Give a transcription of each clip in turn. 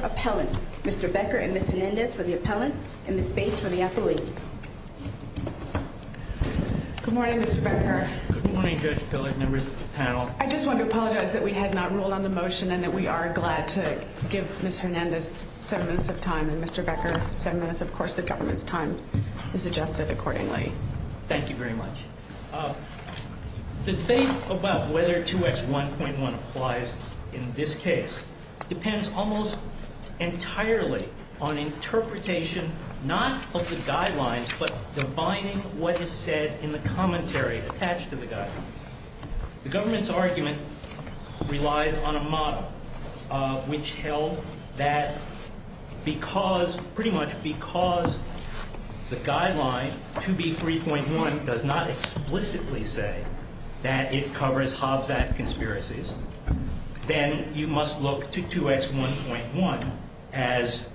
Appellant. Mr. Becker and Ms. Hernandez for the appellants and Ms. Bates for the appellate. Good morning, Mr. Becker. Good morning, Judge Pillard, members of the panel. I just want to apologize that we had not ruled on the motion and that we are glad to give Ms. Hernandez seven minutes of time and Mr. Becker seven minutes. Of course, the government's time is adjusted accordingly. Thank you very much. Mr. Becker and Ms. Hernandez for the appellant. The debate about whether 2X1.1 applies in this case depends almost entirely on interpretation not of the guidelines but defining what is said in the commentary attached to the guidelines. The government's argument relies on a model which held that because, pretty much because the guideline 2B3.1 does not explicitly say that it covers Hobbs Act conspiracies, then you must look to 2X1.1 as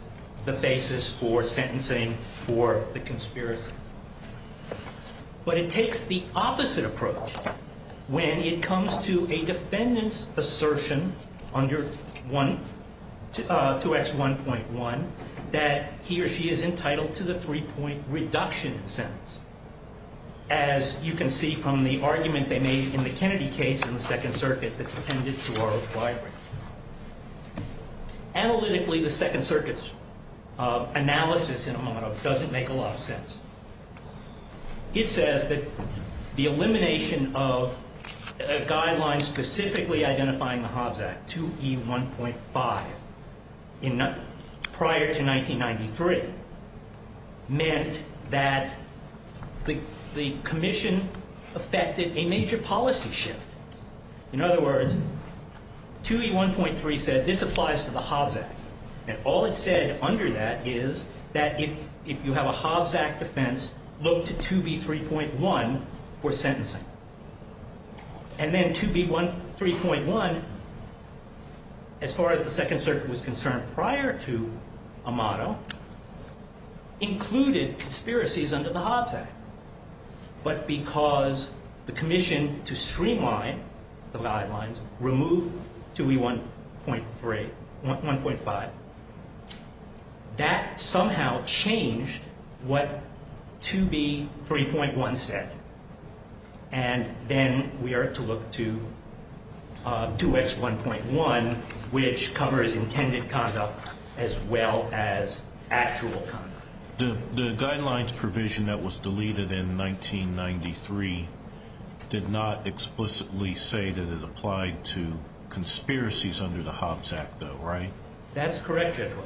the basis for sentencing for the conspiracy. But it takes the opposite approach when it comes to a defendant's assertion under 2X1.1 that he or she is entitled to the three-point reduction in sentence, as you can see from the argument they made in the Kennedy case in the Second Circuit that's appended to our own library. Analytically, the Second Circuit's analysis in a moment doesn't make a lot of sense. It says that the elimination of a guideline specifically identifying the Hobbs Act, 2E1.5, prior to 2X1.1 meant that the commission affected a major policy shift. In other words, 2E1.3 said this applies to the Hobbs Act. And all it said under that is that if you have a Hobbs Act offense, look to 2B3.1 for sentencing. And then 2B3.1, as far as the Second Circuit was concerned prior to Amato, included conspiracies under the Hobbs Act. But because the commission to streamline the guidelines removed 2E1.5, that somehow changed what 2B3.1 said. And then we are to look to 2X1.1, which covers intended conduct as well as actual conduct. The guidelines provision that was deleted in 1993 did not explicitly say that it applied to conspiracies under the Hobbs Act, though, right? That's correct, Judge Wood.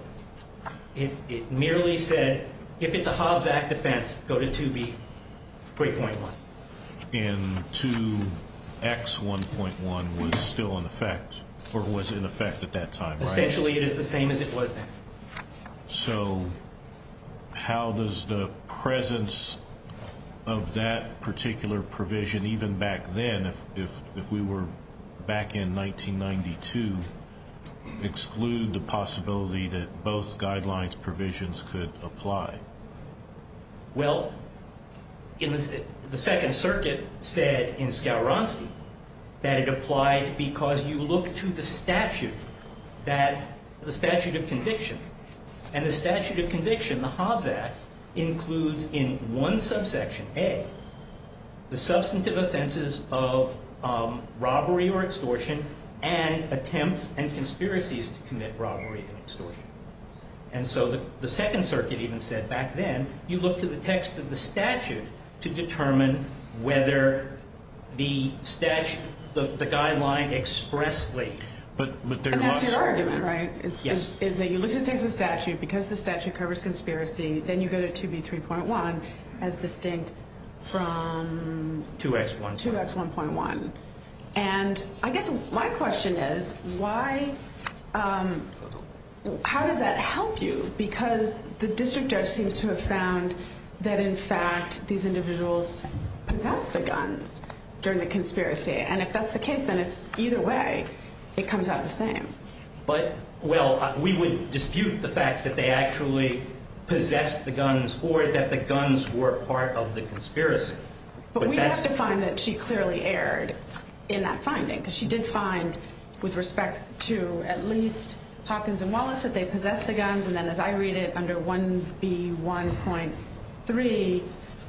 It merely said, if it's a Hobbs Act offense, go to 2B3.1. And 2X1.1 was still in effect, or was in effect at that time, right? Essentially, it is the same as it was then. So how does the presence of that particular provision, even back then, if we were back in 1992, exclude the possibility that both guidelines provisions could apply? Well, the Second Circuit said in Skowronski that it applied because you look to the statute of conviction. And the statute of conviction, the Hobbs Act, includes in one subsection, A, the substantive offenses of robbery or extortion, and attempts and conspiracies to commit robbery and extortion. And so the Second Circuit even said, back then, you look to the text of the statute to determine whether the statute, the guideline expressly. But that's your argument, right? Yes. Is that you look to the text of the statute, because the statute covers conspiracy, then you go to 2B3.1, as distinct from 2X1.1. And I guess my question is, how does that help you? Because the district judge seems to have found that, in fact, these individuals possess the guns during the conspiracy. And if that's the case, then it's either way, it comes out the same. But, well, we would dispute the fact that they actually possess the guns, or that the guns were part of the conspiracy. But we have to find that she clearly erred in that finding, because she did find, with respect to at least Hopkins and Wallace, that they possessed the guns. And then, as I read it, under 1B1.3,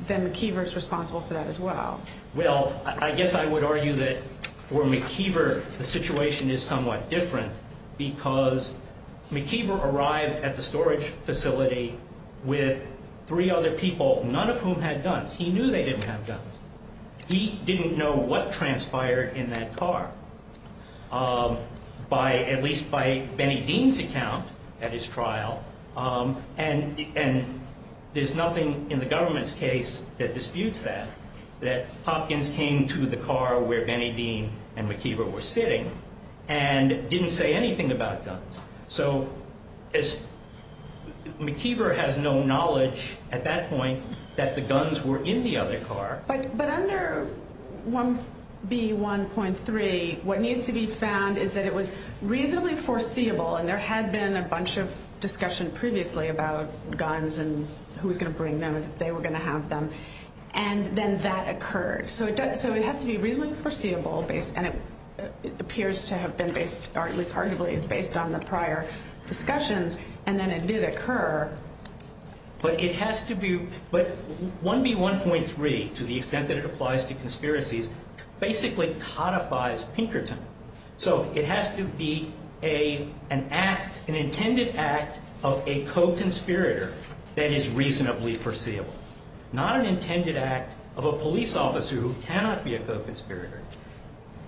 that McKeever's responsible for that as well. Well, I guess I would argue that, for McKeever, the situation is somewhat different, because McKeever arrived at the storage facility with three other people, none of whom had guns. He knew they didn't have guns. He didn't know what transpired in that car, at least by Benny Dean's account at his trial. And there's nothing in the government's case that disputes that, that Hopkins came to the car where Benny Dean and McKeever were sitting and didn't say anything about guns. So McKeever has no knowledge, at that point, that the guns were in the other car. But under 1B1.3, what needs to be found is that it was reasonably foreseeable, and there had been a bunch of discussion previously about guns and who was going to bring them and if they were going to have them. And then that occurred. So it has to be reasonably foreseeable, and it appears to have been based, or at least arguably based on the prior discussions, and then it did occur. But it has to be, but 1B1.3, to the extent that it applies to conspiracies, basically codifies Pinkerton. So it has to be an act, an intended act of a co-conspirator that is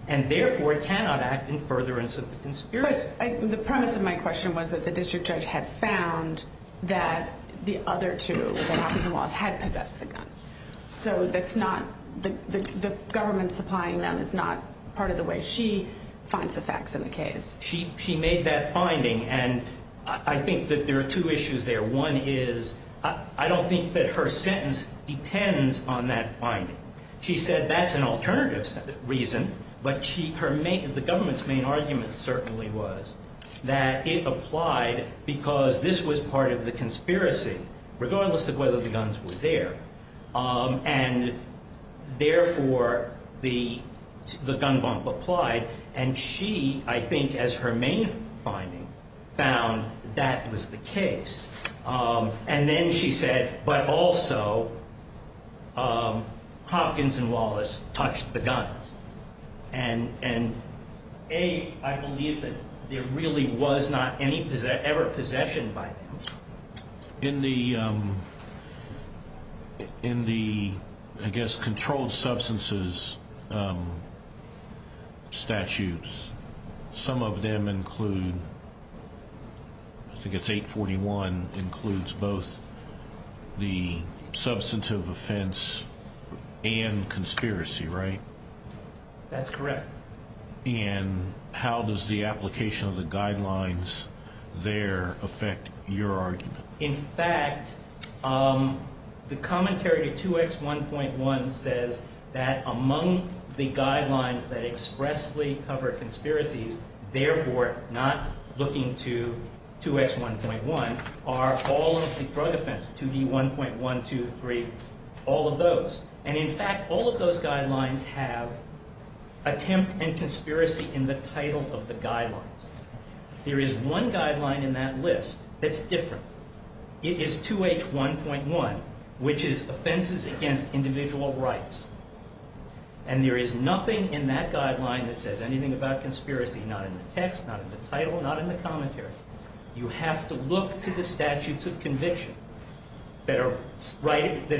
And therefore, it cannot act in furtherance of the conspiracy. But the premise of my question was that the district judge had found that the other two, that Hopkins and Wallace, had possessed the guns. So that's not, the government supplying them is not part of the way she finds the facts in the case. She made that finding, and I think that there are two issues there. One is, I don't think that her sentence depends on that finding. She said that's an alternative reason, but the government's main argument certainly was that it applied because this was part of the conspiracy, regardless of whether the guns were there. And therefore, the gun bump applied, and she, I think, as her main finding, found that was the case. And then she said, but also, Hopkins and Wallace touched the guns. And A, I believe that there really was not any ever possession by them. In the, I guess, controlled substances statutes, some of them include, I think it's 841, includes both the substantive offense and conspiracy, right? That's correct. And how does the application of the guidelines there affect your argument? In fact, the commentary to 2X1.1 says that among the guidelines that expressly cover conspiracies, therefore not looking to 2X1.1, are all of the drug offense, 2D1.123, all of those. And in fact, all of those guidelines have attempt and conspiracy in the title of the guidelines. There is one guideline in that list that's different. It is 2H1.1, which is offenses against individual rights. And there is nothing in that guideline that says anything about conspiracy, not in the text, not in the title, not in the commentary. You have to look to the statutes of conviction that are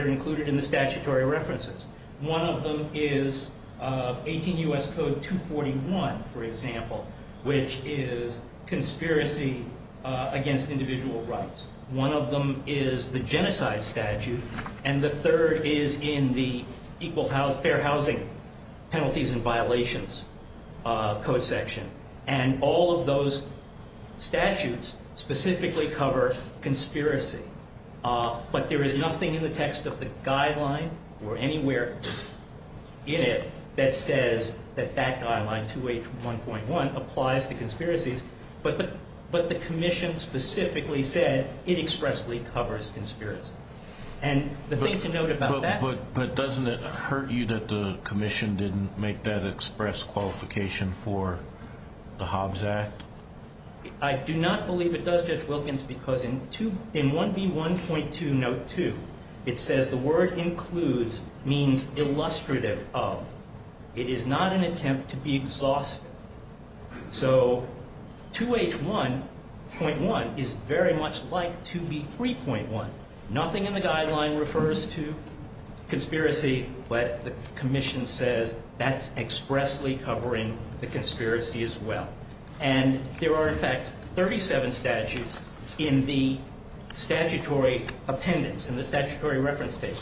included in the statutory references. One of them is 18 U.S. Code 241, for example, which is conspiracy against individual rights. One of them is the genocide statute, and the third is in the Fair Housing Penalties and the statutes specifically cover conspiracy. But there is nothing in the text of the guideline or anywhere in it that says that that guideline, 2H1.1, applies to conspiracies. But the commission specifically said it expressly covers conspiracy. And the thing to note about that... But doesn't it hurt you that the commission didn't make that express qualification for the Hobbs Act? I do not believe it does, Judge Wilkins, because in 1B1.2, note 2, it says the word includes means illustrative of. It is not an attempt to be exhaustive. So 2H1.1 is very much like 2B3.1. Nothing in the guideline refers to conspiracy, but the commission says that's expressly covering the conspiracy as well. And there are, in fact, 37 statutes in the statutory appendix, in the statutory reference page,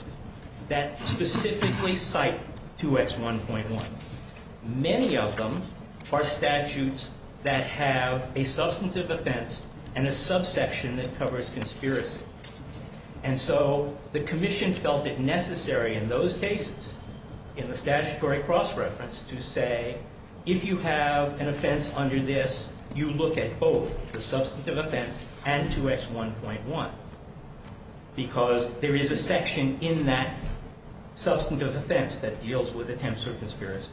that specifically cite 2H1.1. Many of them are statutes that have a substantive offense and a subsection that covers conspiracy. And so the commission felt it necessary in those cases, in the statutory cross-reference, to say, if you have an offense under this, you look at both the substantive offense and 2H1.1. Because there is a section in that substantive offense that deals with attempt to conspiracy.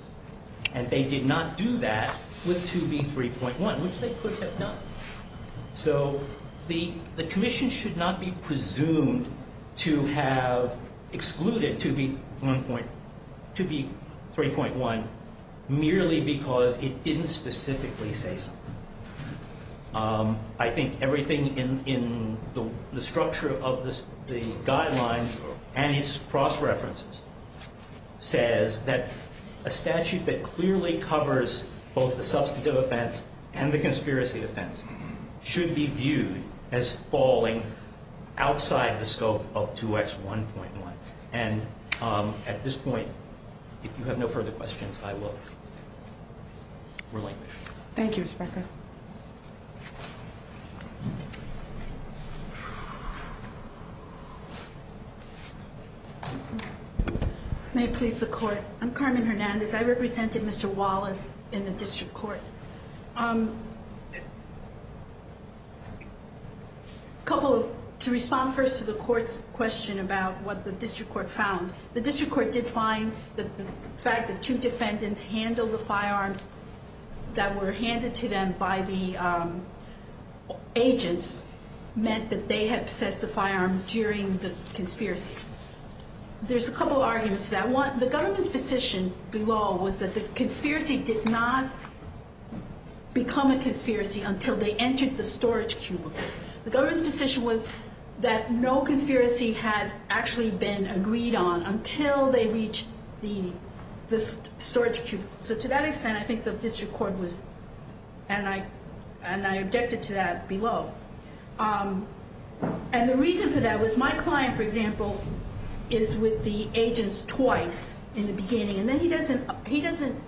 And they did not do that with 2B3.1, which they could have done. So the commission should not be presumed to have excluded 2B3.1 merely because it didn't specifically say something. I think everything in the structure of the guideline and its cross-references says that a statute that clearly covers both the substantive offense and the conspiracy offense should be viewed as falling outside the scope of 2H1.1. And at this point, if you have no further questions, I will relinquish. Thank you, Mr. Becker. May it please the Court. I'm Carmen Hernandez. I represented Mr. Wallace in the district court. To respond first to the court's question about what the district court found, the district court did find that the fact that two defendants handled the firearms that were handed to them by the agents meant that they had possessed the firearm during the conspiracy. There's a couple of arguments to that. One, the government's position below was that the conspiracy did not become a conspiracy until they entered the storage cubicle. The government's position was that no conspiracy had actually been agreed on until they reached the storage cubicle. So to that extent, I think the district court was, and I objected to that below. And the reason for that was my client, for example, is with the agents twice in the beginning, and then he doesn't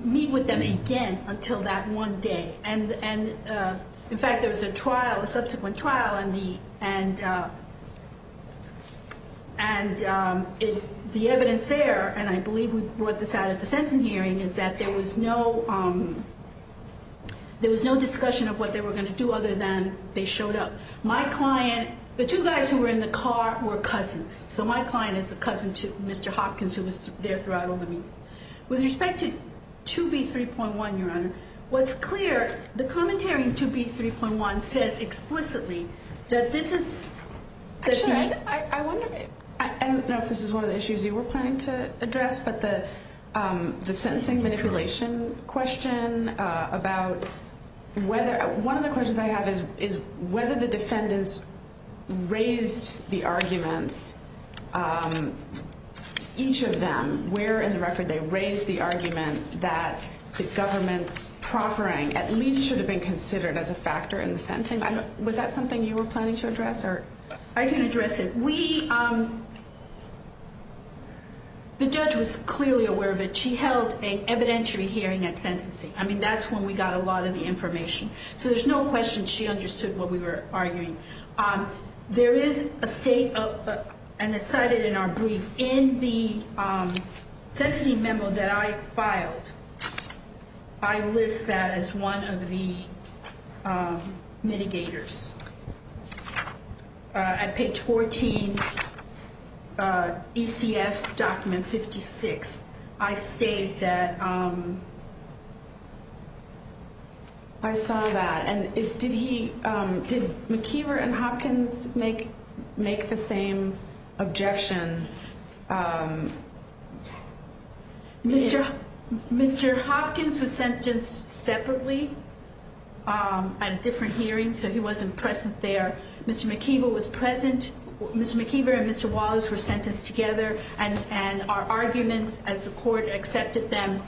meet with them again until that one day. And, in fact, there was a trial, a subsequent trial, and the evidence there, and I believe we brought this out at the Sensen hearing, is that there was no discussion of what they were going to do other than they showed up. My client, the two guys who were in the car were cousins. So my client is a cousin to Mr. Hopkins, who was there throughout all the meetings. With respect to 2B3.1, Your Honor, what's clear, the commentary in 2B3.1 says explicitly that this is... Actually, I don't know if this is one of the issues you were planning to address, but the sentencing manipulation question about whether... One of the questions I have is whether the defendants raised the arguments, each of them, where in the record they raised the argument that the government's proffering at least should have been considered as a factor in the sentencing. Was that something you were planning to address? I can address it. We... The judge was clearly aware of it. She held an evidentiary hearing at sentencing. I mean, that's when we got a lot of the information. So there's no question she understood what we were arguing. There is a state, and it's cited in our brief. In the sentencing memo that I filed, I list that as one of the mitigators. At page 14, ECF document 56, I state that I saw that. Did McKeever and Hopkins make the same objection? Mr. Hopkins was sentenced separately at a different hearing, so he wasn't present there. Mr. McKeever was present. Mr. McKeever and Mr. Wallace were sentenced together, and our arguments as the court accepted them,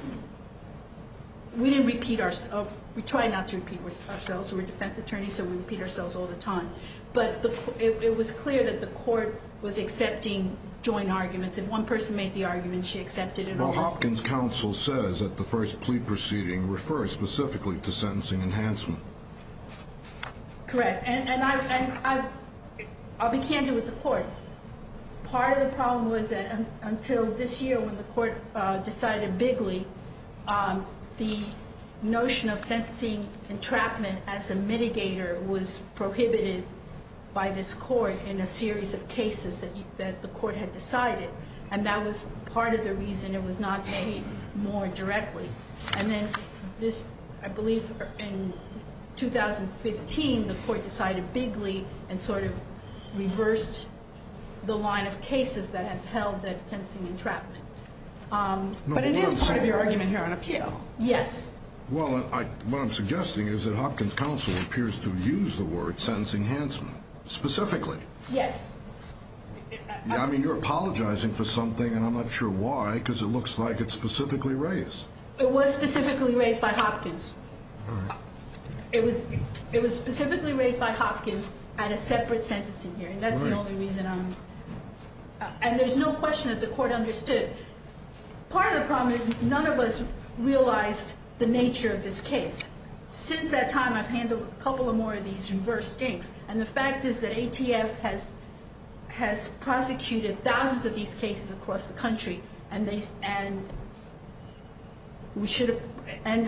we didn't repeat ourselves. We try not to repeat ourselves. We're defense attorneys, so we repeat ourselves all the time. But it was clear that the court was accepting joint arguments. If one person made the argument, she accepted it. Well, Hopkins' counsel says that the first plea proceeding refers specifically to sentencing enhancement. Correct. And I'll be candid with the court. Part of the problem was that until this year when the court decided bigly, the notion of sentencing entrapment as a mitigator was prohibited by this court in a series of cases that the court had decided, and that was part of the reason it was not made more directly. And then I believe in 2015 the court decided bigly and sort of reversed the line of cases that had held that sentencing entrapment. But it is part of your argument here on appeal. Yes. Well, what I'm suggesting is that Hopkins' counsel appears to use the word sentencing enhancement. Specifically. Yes. I mean, you're apologizing for something, and I'm not sure why, because it looks like it's specifically raised. It was specifically raised by Hopkins. All right. It was specifically raised by Hopkins at a separate sentencing hearing. That's the only reason I'm... And there's no question that the court understood. Part of the problem is none of us realized the nature of this case. Since that time, I've handled a couple of more of these reverse stinks, and the fact is that ATF has prosecuted thousands of these cases across the country, and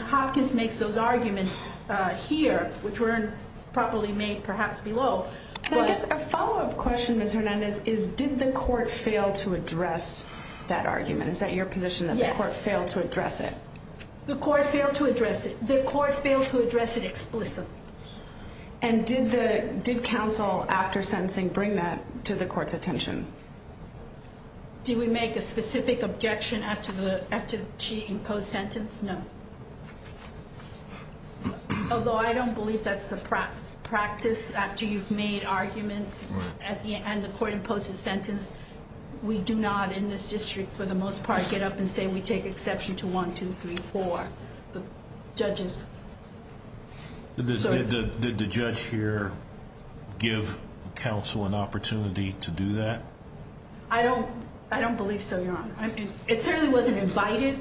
Hopkins makes those arguments here, which weren't properly made perhaps below. A follow-up question, Ms. Hernandez, is did the court fail to address that argument? Is that your position, that the court failed to address it? Yes. The court failed to address it. The court failed to address it explicitly. And did counsel, after sentencing, bring that to the court's attention? Did we make a specific objection after she imposed sentence? No. Although I don't believe that's the practice. After you've made arguments and the court imposes sentence, we do not in this district for the most part get up and say we take exception to 1, 2, 3, 4. The judges... Did the judge here give counsel an opportunity to do that? I don't believe so, Your Honor. It certainly wasn't invited.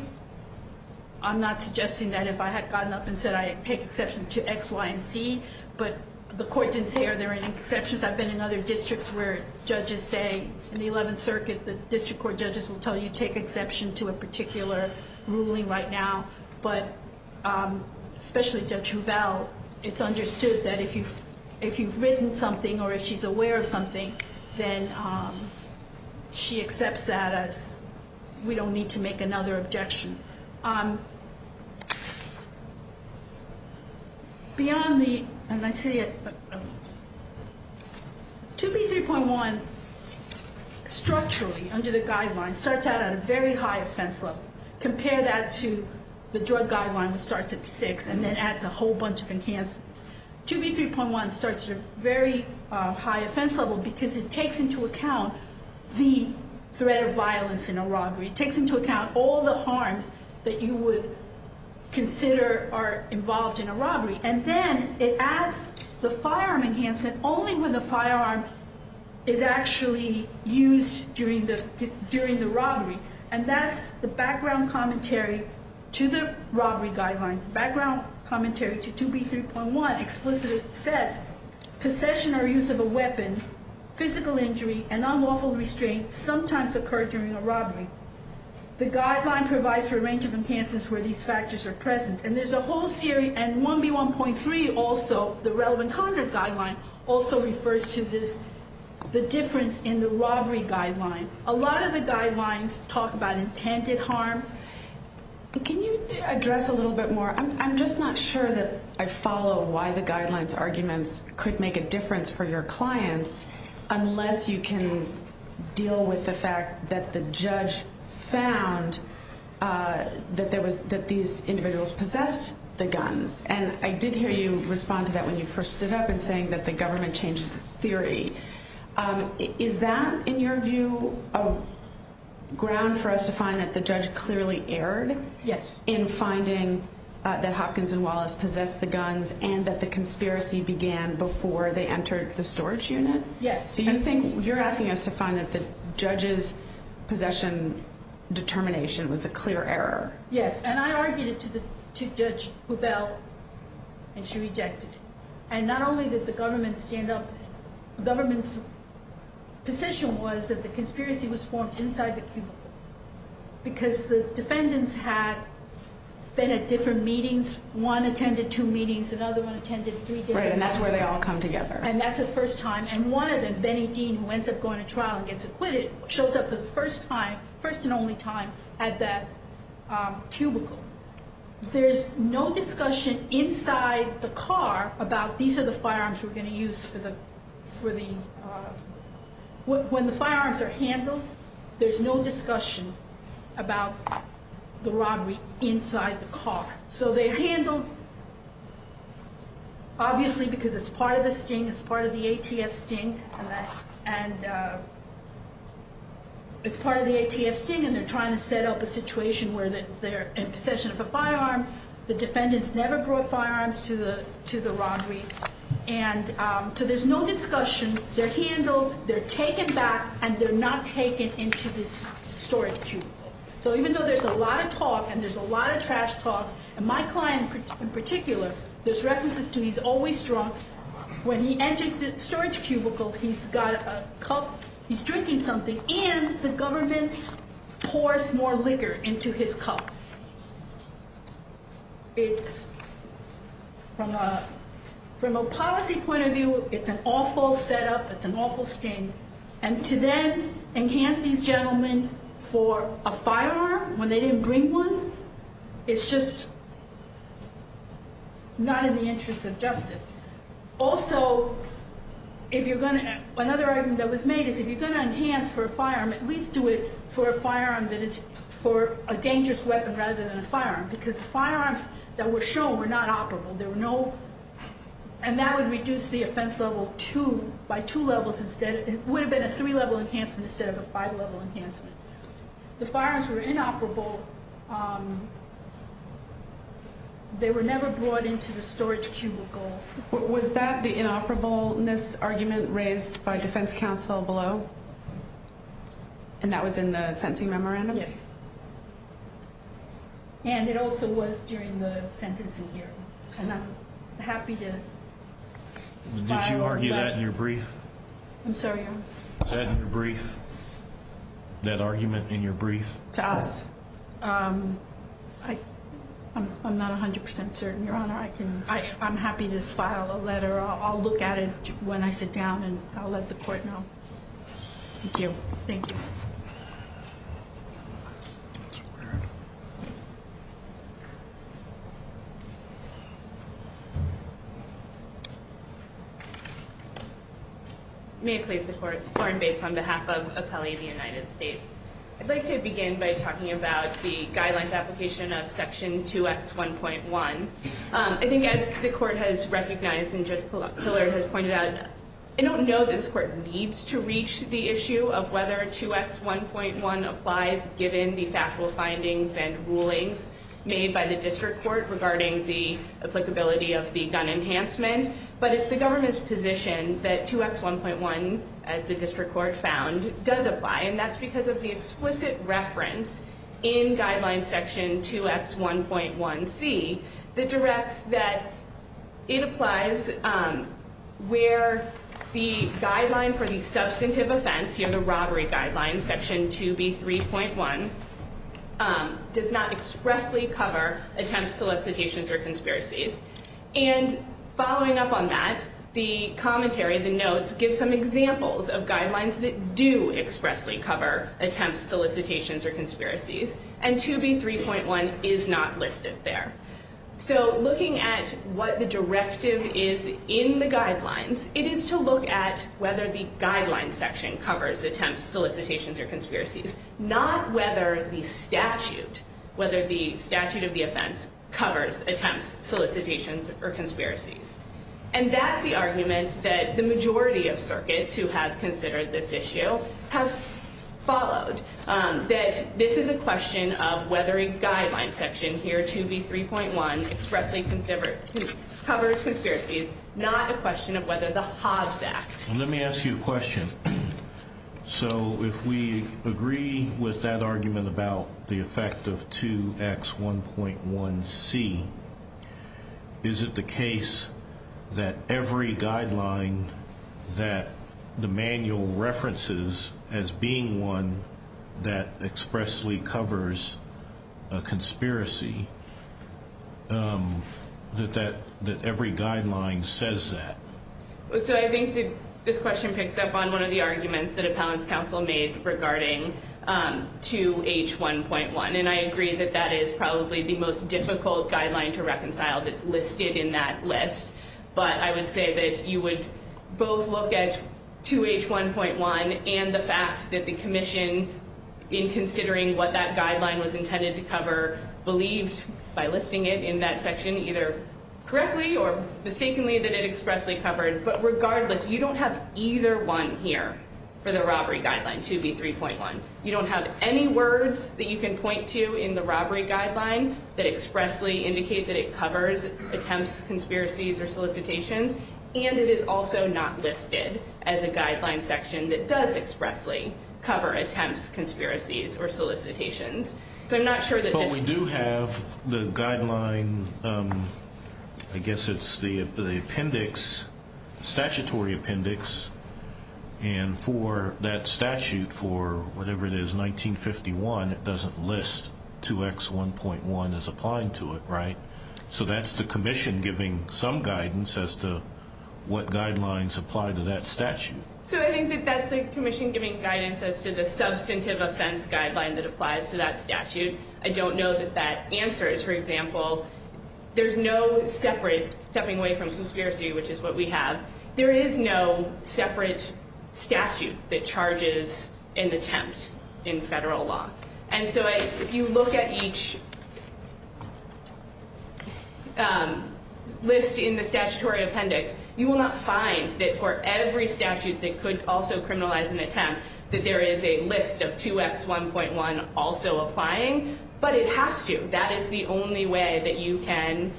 I'm not suggesting that if I had gotten up and said I take exception to X, Y, and Z, but the court didn't say are there any exceptions. I've been in other districts where judges say in the 11th Circuit, the district court judges will tell you take exception to a particular ruling right now. But especially Judge Rubell, it's understood that if you've written something or if she's aware of something, then she accepts that as we don't need to make another objection. Beyond the... 2B3.1 structurally under the guidelines starts out at a very high offense level. Compare that to the drug guideline which starts at 6 and then adds a whole bunch of enhancements. 2B3.1 starts at a very high offense level because it takes into account the threat of violence in a robbery. It takes into account all the harms that you would consider are involved in a robbery. And then it adds the firearm enhancement only when the firearm is actually used during the robbery. And that's the background commentary to the robbery guideline. Background commentary to 2B3.1 explicitly says possession or use of a weapon, physical injury, and unlawful restraint sometimes occur during a robbery. The guideline provides for a range of enhancements where these factors are present. And there's a whole series, and 1B1.3 also, the relevant conduct guideline, also refers to the difference in the robbery guideline. A lot of the guidelines talk about intended harm. Can you address a little bit more? I'm just not sure that I follow why the guidelines arguments could make a difference for your clients unless you can deal with the fact that the judge found that these individuals possessed the guns. And I did hear you respond to that when you first stood up and saying that the government changes its theory. Is that, in your view, a ground for us to find that the judge clearly erred? Yes. In finding that Hopkins and Wallace possessed the guns and that the conspiracy began before they entered the storage unit? Yes. So you're asking us to find that the judge's possession determination was a clear error? Yes, and I argued it to Judge Buvel, and she rejected it. And not only did the government stand up, the government's position was that the conspiracy was formed inside the cubicle because the defendants had been at different meetings. One attended two meetings, another one attended three different meetings. Right, and that's where they all come together. And that's the first time. And one of them, Benny Dean, who ends up going to trial and gets acquitted, shows up for the first time, first and only time, at that cubicle. There's no discussion inside the car about these are the firearms we're going to use for the... When the firearms are handled, there's no discussion about the robbery inside the car. So they're handled, obviously, because it's part of the sting, it's part of the ATF sting, and it's part of the ATF sting, and they're trying to set up a situation where they're in possession of a firearm. The defendants never brought firearms to the robbery. And so there's no discussion. They're handled, they're taken back, and they're not taken into this storage cubicle. So even though there's a lot of talk, and there's a lot of trash talk, and my client in particular, there's references to he's always drunk. When he enters the storage cubicle, he's got a cup, he's drinking something, and the government pours more liquor into his cup. It's, from a policy point of view, it's an awful setup, it's an awful sting. And to then enhance these gentlemen for a firearm when they didn't bring one, it's just not in the interest of justice. Also, another argument that was made is if you're going to enhance for a firearm, at least do it for a firearm that is for a dangerous weapon rather than a firearm, because the firearms that were shown were not operable. And that would reduce the offense level by two levels instead. It would have been a three-level enhancement instead of a five-level enhancement. The firearms were inoperable. They were never brought into the storage cubicle. Was that the inoperableness argument raised by defense counsel below? And that was in the sentencing memorandum? Yes. And it also was during the sentencing hearing. And I'm happy to fire on that. Did you argue that in your brief? I'm sorry? That argument in your brief? To us. I'm not 100% certain, Your Honor. I'm happy to file a letter. I'll look at it when I sit down, and I'll let the court know. Thank you. Thank you. That's weird. May it please the Court, Lauren Bates on behalf of Appellee of the United States. I'd like to begin by talking about the guidelines application of Section 2X1.1. I think as the Court has recognized and Judge Pillar has pointed out, I don't know that this Court needs to reach the issue of whether 2X1.1 applies given the factual findings and rulings made by the District Court regarding the applicability of the gun enhancement. But it's the government's position that 2X1.1, as the District Court found, does apply. And that's because of the explicit reference in Guidelines Section 2X1.1c that directs that it applies where the guideline for the substantive offense, here the robbery guideline, Section 2B3.1, does not expressly cover attempts, solicitations, or conspiracies. And following up on that, the commentary, the notes, give some examples of guidelines that do expressly cover attempts, solicitations, or conspiracies. And 2B3.1 is not listed there. So looking at what the directive is in the guidelines, it is to look at whether the Guidelines Section covers attempts, solicitations, or conspiracies, not whether the statute of the offense covers attempts, solicitations, or conspiracies. And that's the argument that the majority of circuits who have considered this issue have followed, that this is a question of whether a Guidelines Section, here 2B3.1, expressly covers conspiracies, not a question of whether the Hobbs Act. Let me ask you a question. So if we agree with that argument about the effect of 2X1.1c, is it the case that every guideline that the manual references as being one that expressly covers a conspiracy, that every guideline says that? So I think that this question picks up on one of the arguments that Appellant's Counsel made regarding 2H1.1, and I agree that that is probably the most difficult guideline to reconcile that's listed in that list. But I would say that you would both look at 2H1.1 and the fact that the commission, in considering what that guideline was intended to cover, believed by listing it in that section either correctly or mistakenly that it expressly covered. But regardless, you don't have either one here for the robbery guideline, 2B3.1. You don't have any words that you can point to in the robbery guideline that expressly indicate that it covers attempts, conspiracies, or solicitations, and it is also not listed as a Guidelines Section that does expressly cover attempts, conspiracies, or solicitations. So I'm not sure that this is true. But we do have the guideline, I guess it's the appendix, statutory appendix, and for that statute, for whatever it is, 1951, it doesn't list 2X1.1 as applying to it, right? So that's the commission giving some guidance as to what guidelines apply to that statute. So I think that that's the commission giving guidance as to the substantive offense guideline that applies to that statute. I don't know that that answers, for example, there's no separate, stepping away from conspiracy, which is what we have, there is no separate statute that charges an attempt in federal law. And so if you look at each list in the statutory appendix, you will not find that for every statute that could also criminalize an attempt, that there is a list of 2X1.1 also applying, but it has to. That is the only way that you can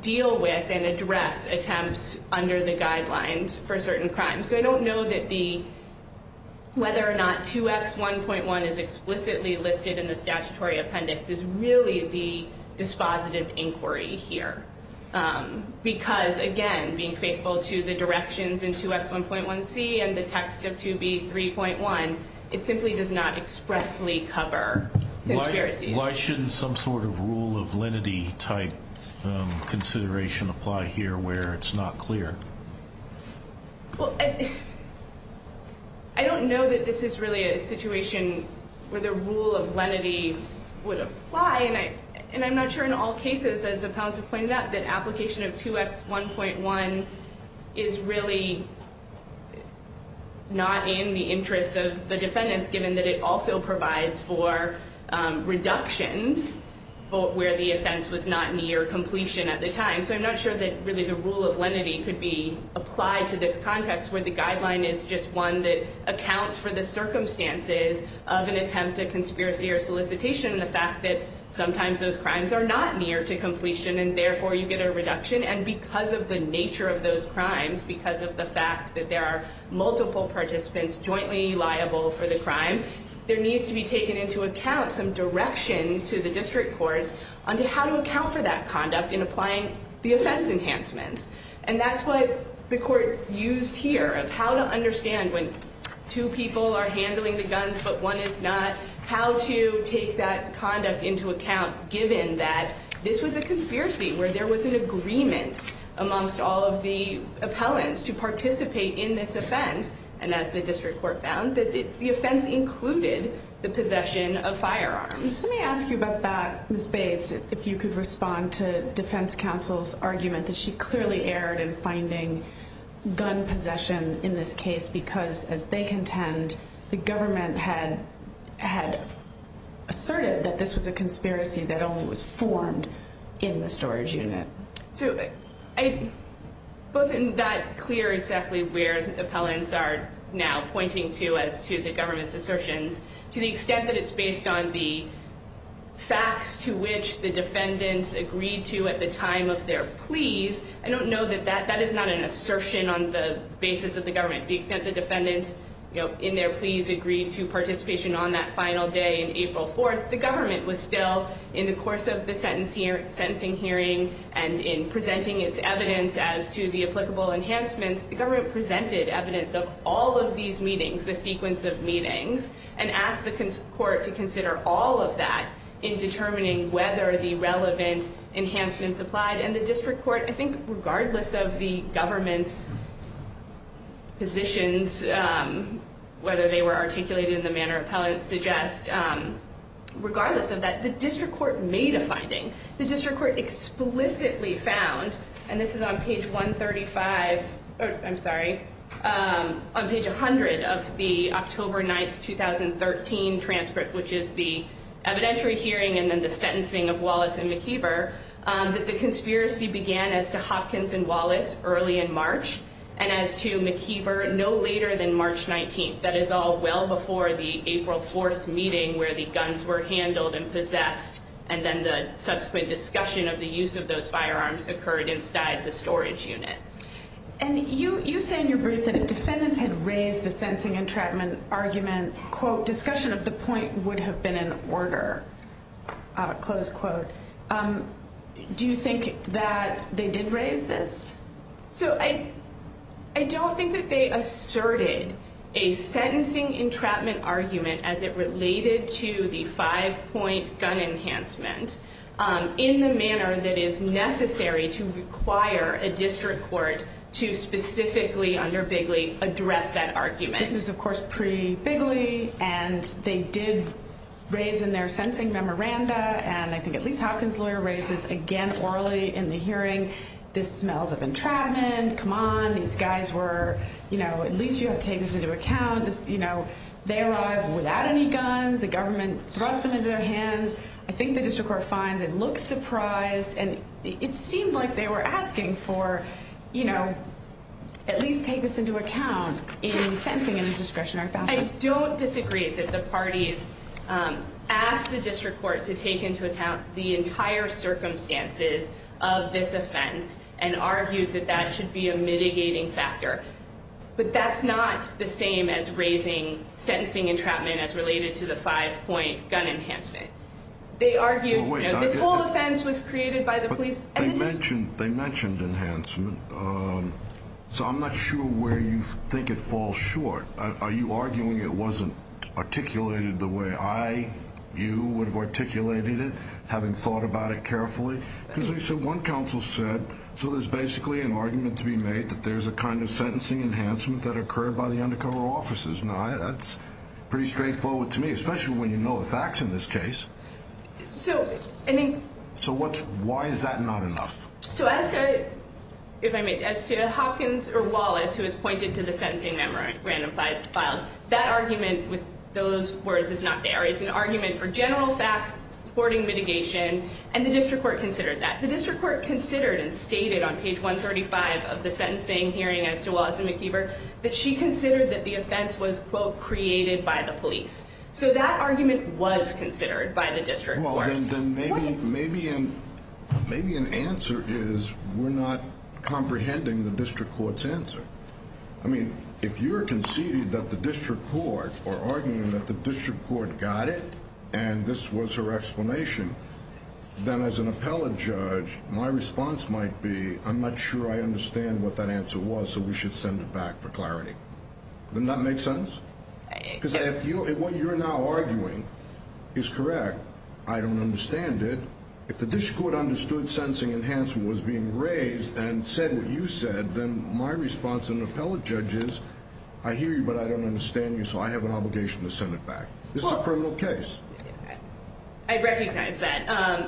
deal with and address attempts under the guidelines for certain crimes. So I don't know that the, whether or not 2X1.1 is explicitly listed in the statutory appendix, is really the dispositive inquiry here. Because, again, being faithful to the directions in 2X1.1C and the text of 2B3.1, it simply does not expressly cover conspiracies. Why shouldn't some sort of rule of lenity type consideration apply here where it's not clear? Well, I don't know that this is really a situation where the rule of lenity would apply. And I'm not sure in all cases, as the panelists have pointed out, that application of 2X1.1 is really not in the interest of the defendants, given that it also provides for reductions where the offense was not near completion at the time. So I'm not sure that really the rule of lenity could be applied to this context where the guideline is just one that accounts for the circumstances of an attempt, a conspiracy or solicitation, and the fact that sometimes those crimes are not near to completion and therefore you get a reduction. And because of the nature of those crimes, because of the fact that there are multiple participants jointly liable for the crime, there needs to be taken into account some direction to the district courts on how to account for that conduct in applying the offense enhancements. And that's what the court used here of how to understand when two people are handling the guns but one is not, how to take that conduct into account given that this was a conspiracy, where there was an agreement amongst all of the appellants to participate in this offense. And as the district court found, the offense included the possession of firearms. Let me ask you about that, Ms. Bates, if you could respond to defense counsel's argument that she clearly erred in finding gun possession in this case because, as they contend, the government had asserted that this was a conspiracy that only was formed in the storage unit. So both in that clear exactly where appellants are now pointing to as to the government's assertions, to the extent that it's based on the facts to which the defendants agreed to at the time of their pleas, I don't know that that is not an assertion on the basis of the government. To the extent the defendants in their pleas agreed to participation on that final day in April 4th, the government was still in the course of the sentencing hearing and in presenting its evidence as to the applicable enhancements. The government presented evidence of all of these meetings, the sequence of meetings, and asked the court to consider all of that in determining whether the relevant enhancements applied. And the district court, I think regardless of the government's positions, whether they were articulated in the manner appellants suggest, regardless of that, the district court made a finding. The district court explicitly found, and this is on page 135, I'm sorry, on page 100 of the October 9th, 2013 transcript, which is the evidentiary hearing and then the sentencing of Wallace and McKeever, that the conspiracy began as to Hopkins and Wallace early in March and as to McKeever no later than March 19th. That is all well before the April 4th meeting where the guns were handled and possessed and then the subsequent discussion of the use of those firearms occurred inside the storage unit. And you say in your brief that if defendants had raised the sensing entrapment argument, then, quote, discussion of the point would have been in order, close quote. Do you think that they did raise this? So I don't think that they asserted a sentencing entrapment argument as it related to the five-point gun enhancement in the manner that is necessary to require a district court to specifically under Bigley address that argument. This is, of course, pre-Bigley, and they did raise in their sentencing memoranda, and I think at least Hopkins' lawyer raised this again orally in the hearing, this smells of entrapment, come on, these guys were, you know, at least you have to take this into account, you know, they arrived without any guns, the government thrust them into their hands. I think the district court finds it looks surprised, and it seemed like they were asking for, you know, at least take this into account in sentencing in a discretionary fashion. I don't disagree that the parties asked the district court to take into account the entire circumstances of this offense and argued that that should be a mitigating factor. But that's not the same as raising sentencing entrapment as related to the five-point gun enhancement. They argued, you know, this whole offense was created by the police. They mentioned enhancement, so I'm not sure where you think it falls short. Are you arguing it wasn't articulated the way I, you, would have articulated it, having thought about it carefully? So one counsel said, so there's basically an argument to be made that there's a kind of sentencing enhancement that occurred by the undercover officers. Now, that's pretty straightforward to me, especially when you know the facts in this case. So, I mean. So what, why is that not enough? So as to, if I may, as to Hopkins or Wallace, who has pointed to the sentencing memorandum filed, that argument with those words is not there. It's an argument for general facts, supporting mitigation, and the district court considered that. The district court considered and stated on page 135 of the sentencing hearing as to Wallace and McKeever that she considered that the offense was, quote, created by the police. So that argument was considered by the district court. Well, then maybe an answer is we're not comprehending the district court's answer. I mean, if you're conceding that the district court, or arguing that the district court got it, and this was her explanation, then as an appellate judge, my response might be, I'm not sure I understand what that answer was, so we should send it back for clarity. Doesn't that make sense? Because what you're now arguing is correct. I don't understand it. If the district court understood sentencing enhancement was being raised and said what you said, then my response as an appellate judge is, I hear you, but I don't understand you, so I have an obligation to send it back. This is a criminal case. I recognize that.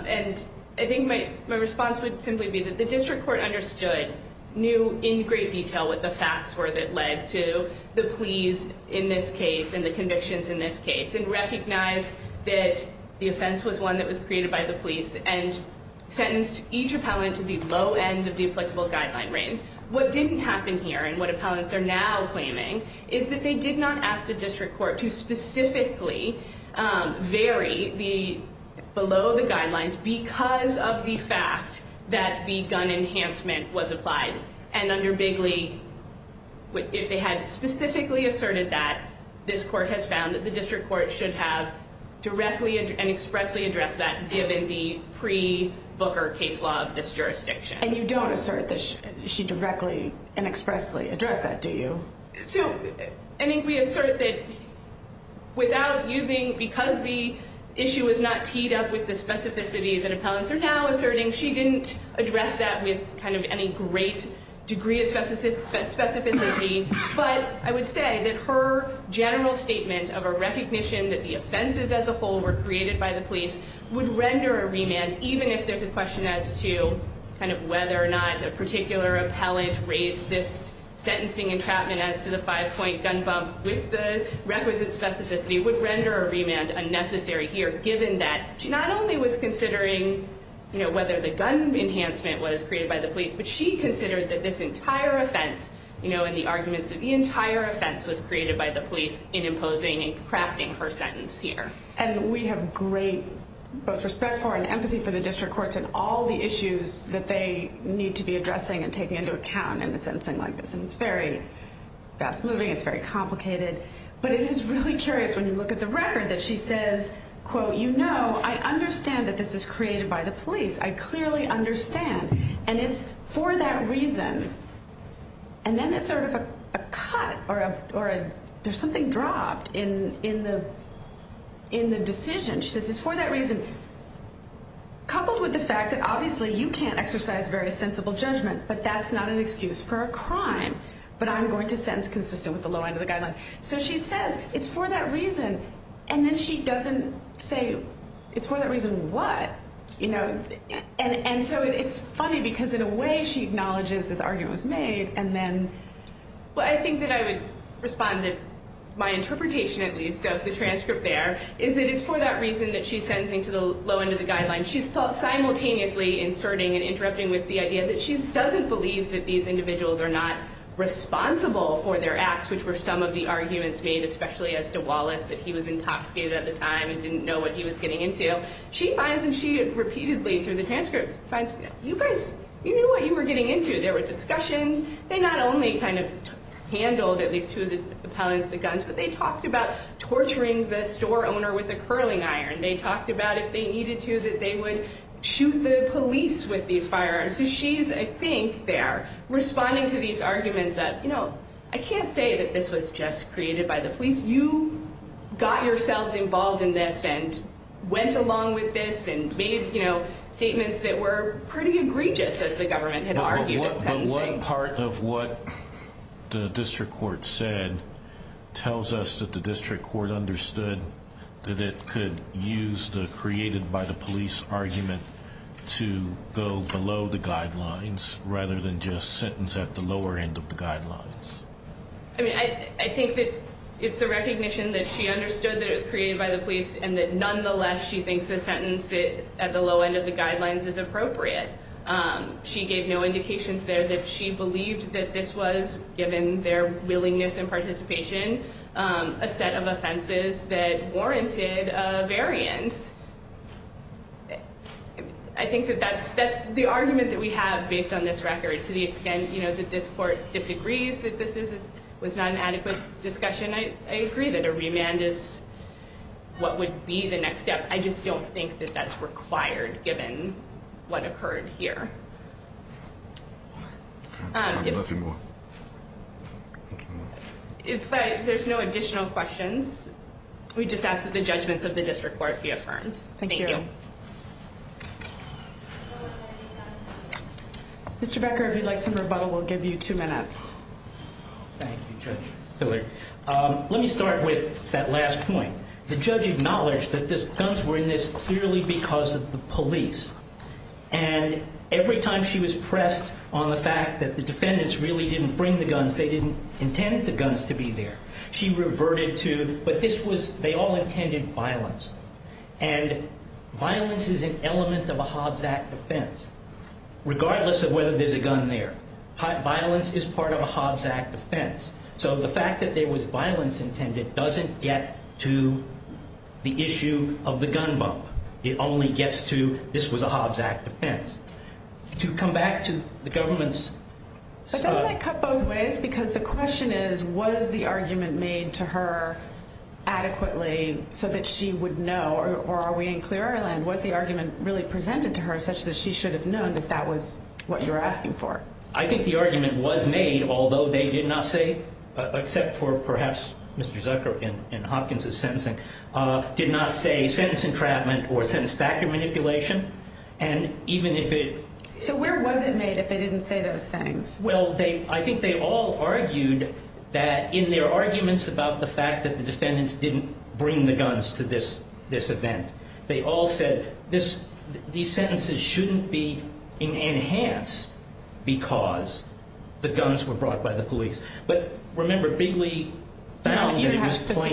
And I think my response would simply be that the district court understood, knew in great detail, what the facts were that led to the pleas in this case and the convictions in this case, and recognized that the offense was one that was created by the police and sentenced each appellant to the low end of the applicable guideline range. What didn't happen here, and what appellants are now claiming, is that they did not ask the district court to specifically vary below the guidelines because of the fact that the gun enhancement was applied, and under Bigley, if they had specifically asserted that, this court has found that the district court should have directly and expressly addressed that given the pre-Booker case law of this jurisdiction. And you don't assert that she directly and expressly addressed that, do you? So I think we assert that without using, because the issue was not teed up with the specificity that appellants are now asserting, she didn't address that with any great degree of specificity, but I would say that her general statement of a recognition that the offenses as a whole were created by the police would render a remand, even if there's a question as to whether or not a particular appellant raised this sentencing entrapment as to the five-point gun bump with the requisite specificity, would render a remand unnecessary here, given that she not only was considering whether the gun enhancement was created by the police, but she considered that this entire offense and the arguments that the entire offense was created by the police in imposing and crafting her sentence here. And we have great both respect for and empathy for the district courts in all the issues that they need to be addressing and taking into account in a sentencing like this, and it's very fast-moving, it's very complicated, but it is really curious when you look at the record that she says, quote, you know, I understand that this is created by the police. I clearly understand, and it's for that reason. And then it's sort of a cut or there's something dropped in the decision. She says it's for that reason, coupled with the fact that obviously you can't exercise very sensible judgment, but that's not an excuse for a crime, but I'm going to sentence consistent with the low end of the guideline. So she says it's for that reason, and then she doesn't say it's for that reason what, you know. And so it's funny because in a way she acknowledges that the argument was made, and then. Well, I think that I would respond that my interpretation at least of the transcript there is that it's for that reason that she's sentencing to the low end of the guideline. She's simultaneously inserting and interrupting with the idea that she doesn't believe that these individuals are not responsible for their acts, which were some of the arguments made, especially as to Wallace, that he was intoxicated at the time and didn't know what he was getting into. She finds, and she repeatedly through the transcript finds, you guys, you knew what you were getting into. There were discussions. They not only kind of handled at least two of the pellets, the guns, but they talked about torturing the store owner with a curling iron. They talked about if they needed to that they would shoot the police with these firearms. So she's, I think, there responding to these arguments of, you know, I can't say that this was just created by the police. You got yourselves involved in this and went along with this and made statements that were pretty egregious as the government had argued in sentencing. But one part of what the district court said tells us that the district court understood that it could use the created by the police argument to go below the guidelines rather than just sentence at the lower end of the guidelines. I mean, I think that it's the recognition that she understood that it was created by the police and that nonetheless she thinks the sentence at the low end of the guidelines is appropriate. She gave no indications there that she believed that this was, given their willingness and participation, a set of offenses that warranted a variance. I think that that's the argument that we have based on this record to the extent, you know, that this court disagrees that this was not an adequate discussion. I agree that a remand is what would be the next step. I just don't think that that's required given what occurred here. If there's no additional questions, we just ask that the judgments of the district court be affirmed. Thank you. Mr. Becker, if you'd like some rebuttal, we'll give you two minutes. Thank you, Judge Hilliard. Let me start with that last point. The judge acknowledged that the guns were in this clearly because of the police and every time she was pressed on the fact that the defendants really didn't bring the guns, they didn't intend the guns to be there. She reverted to, but this was, they all intended violence, and violence is an element of a Hobbs Act offense regardless of whether there's a gun there. Violence is part of a Hobbs Act offense, so the fact that there was violence intended doesn't get to the issue of the gun bump. It only gets to this was a Hobbs Act offense. To come back to the government's- But doesn't that cut both ways? Because the question is, was the argument made to her adequately so that she would know, or are we in clear airline? Was the argument really presented to her such that she should have known that that was what you're asking for? I think the argument was made, although they did not say, except for perhaps Mr. Zucker in Hopkins' sentencing, did not say sentence entrapment or sentence factor manipulation, and even if it- So where was it made if they didn't say those things? Well, I think they all argued that in their arguments about the fact that the defendants didn't bring the guns to this event, they all said these sentences shouldn't be enhanced because the guns were brought by the police. But remember, Bigley found that it was plain error- Did you have to look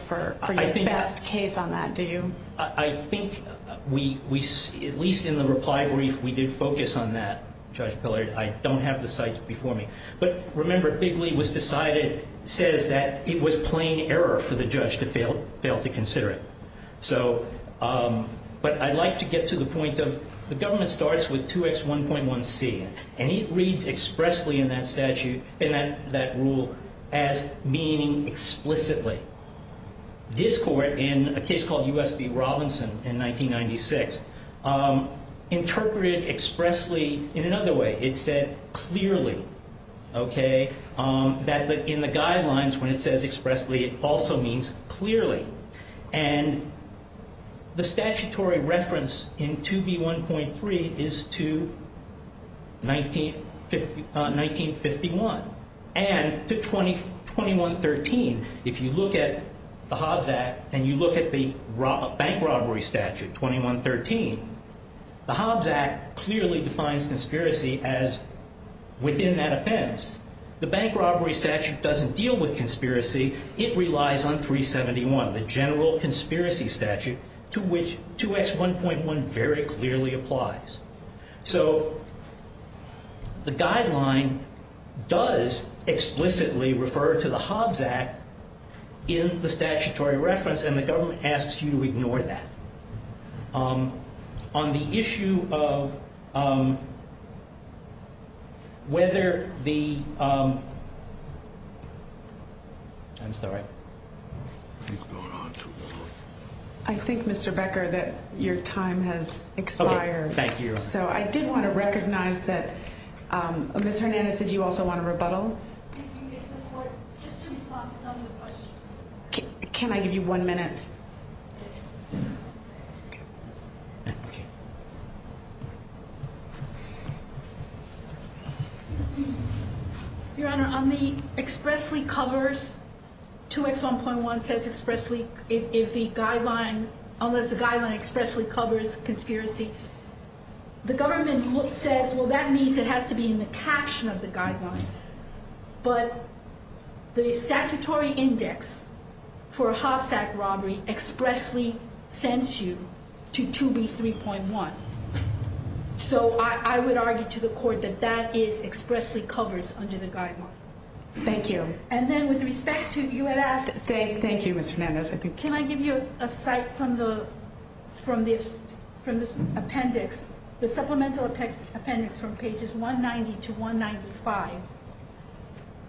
for your best case on that? I think we, at least in the reply brief, we did focus on that, Judge Pillard. I don't have the cites before me. But remember, Bigley was decided, says that it was plain error for the judge to fail to consider it. But I'd like to get to the point of the government starts with 2X1.1C, and it reads expressly in that statute, in that rule, as meaning explicitly. This court, in a case called U.S. v. Robinson in 1996, interpreted expressly in another way. It said clearly, okay, that in the guidelines, when it says expressly, it also means clearly. And the statutory reference in 2B.1.3 is to 1951 and to 2113. If you look at the Hobbs Act and you look at the bank robbery statute, 2113, the Hobbs Act clearly defines conspiracy as within that offense. The bank robbery statute doesn't deal with conspiracy. It relies on 371, the general conspiracy statute, to which 2X1.1 very clearly applies. So the guideline does explicitly refer to the Hobbs Act in the statutory reference, and the government asks you to ignore that. On the issue of whether the ‑‑ I'm sorry. I think, Mr. Becker, that your time has expired. Okay. Thank you. So I did want to recognize that Ms. Hernandez, did you also want to rebuttal? If the court, just to respond to some of the questions. Can I give you one minute? Yes. Your Honor, on the expressly covers, 2X1.1 says expressly, if the guideline, unless the guideline expressly covers conspiracy, the government says, well, that means it has to be in the caption of the guideline. But the statutory index for a Hobbs Act robbery expressly sends you to 2B3.1. So I would argue to the court that that is expressly covers under the guideline. Thank you. And then with respect to ‑‑ you had asked ‑‑ Thank you, Ms. Hernandez. Can I give you a cite from the appendix, the supplemental appendix from pages 190 to 195,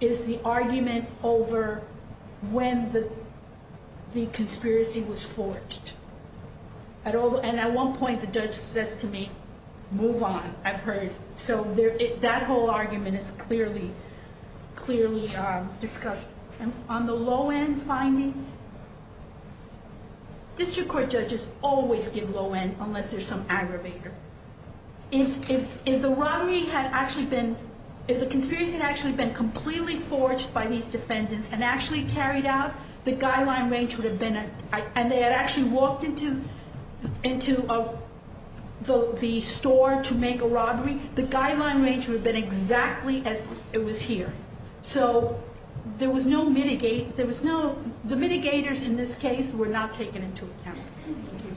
is the argument over when the conspiracy was forged. And at one point the judge says to me, move on, I've heard. So that whole argument is clearly discussed. On the low end finding, district court judges always give low end unless there's some aggravator. If the robbery had actually been, if the conspiracy had actually been completely forged by these defendants and actually carried out, the guideline range would have been, and they had actually walked into the store to make a robbery, the guideline range would have been exactly as it was here. So there was no mitigate, there was no, the mitigators in this case were not taken into account. Thank you.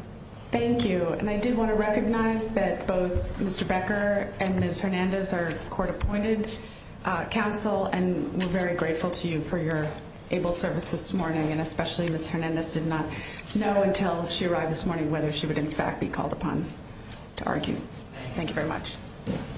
Thank you. And I do want to recognize that both Mr. Becker and Ms. Hernandez are court appointed counsel and we're very grateful to you for your able service this morning and especially Ms. Hernandez did not know until she arrived this morning whether she would in fact be called upon to argue. Thank you very much.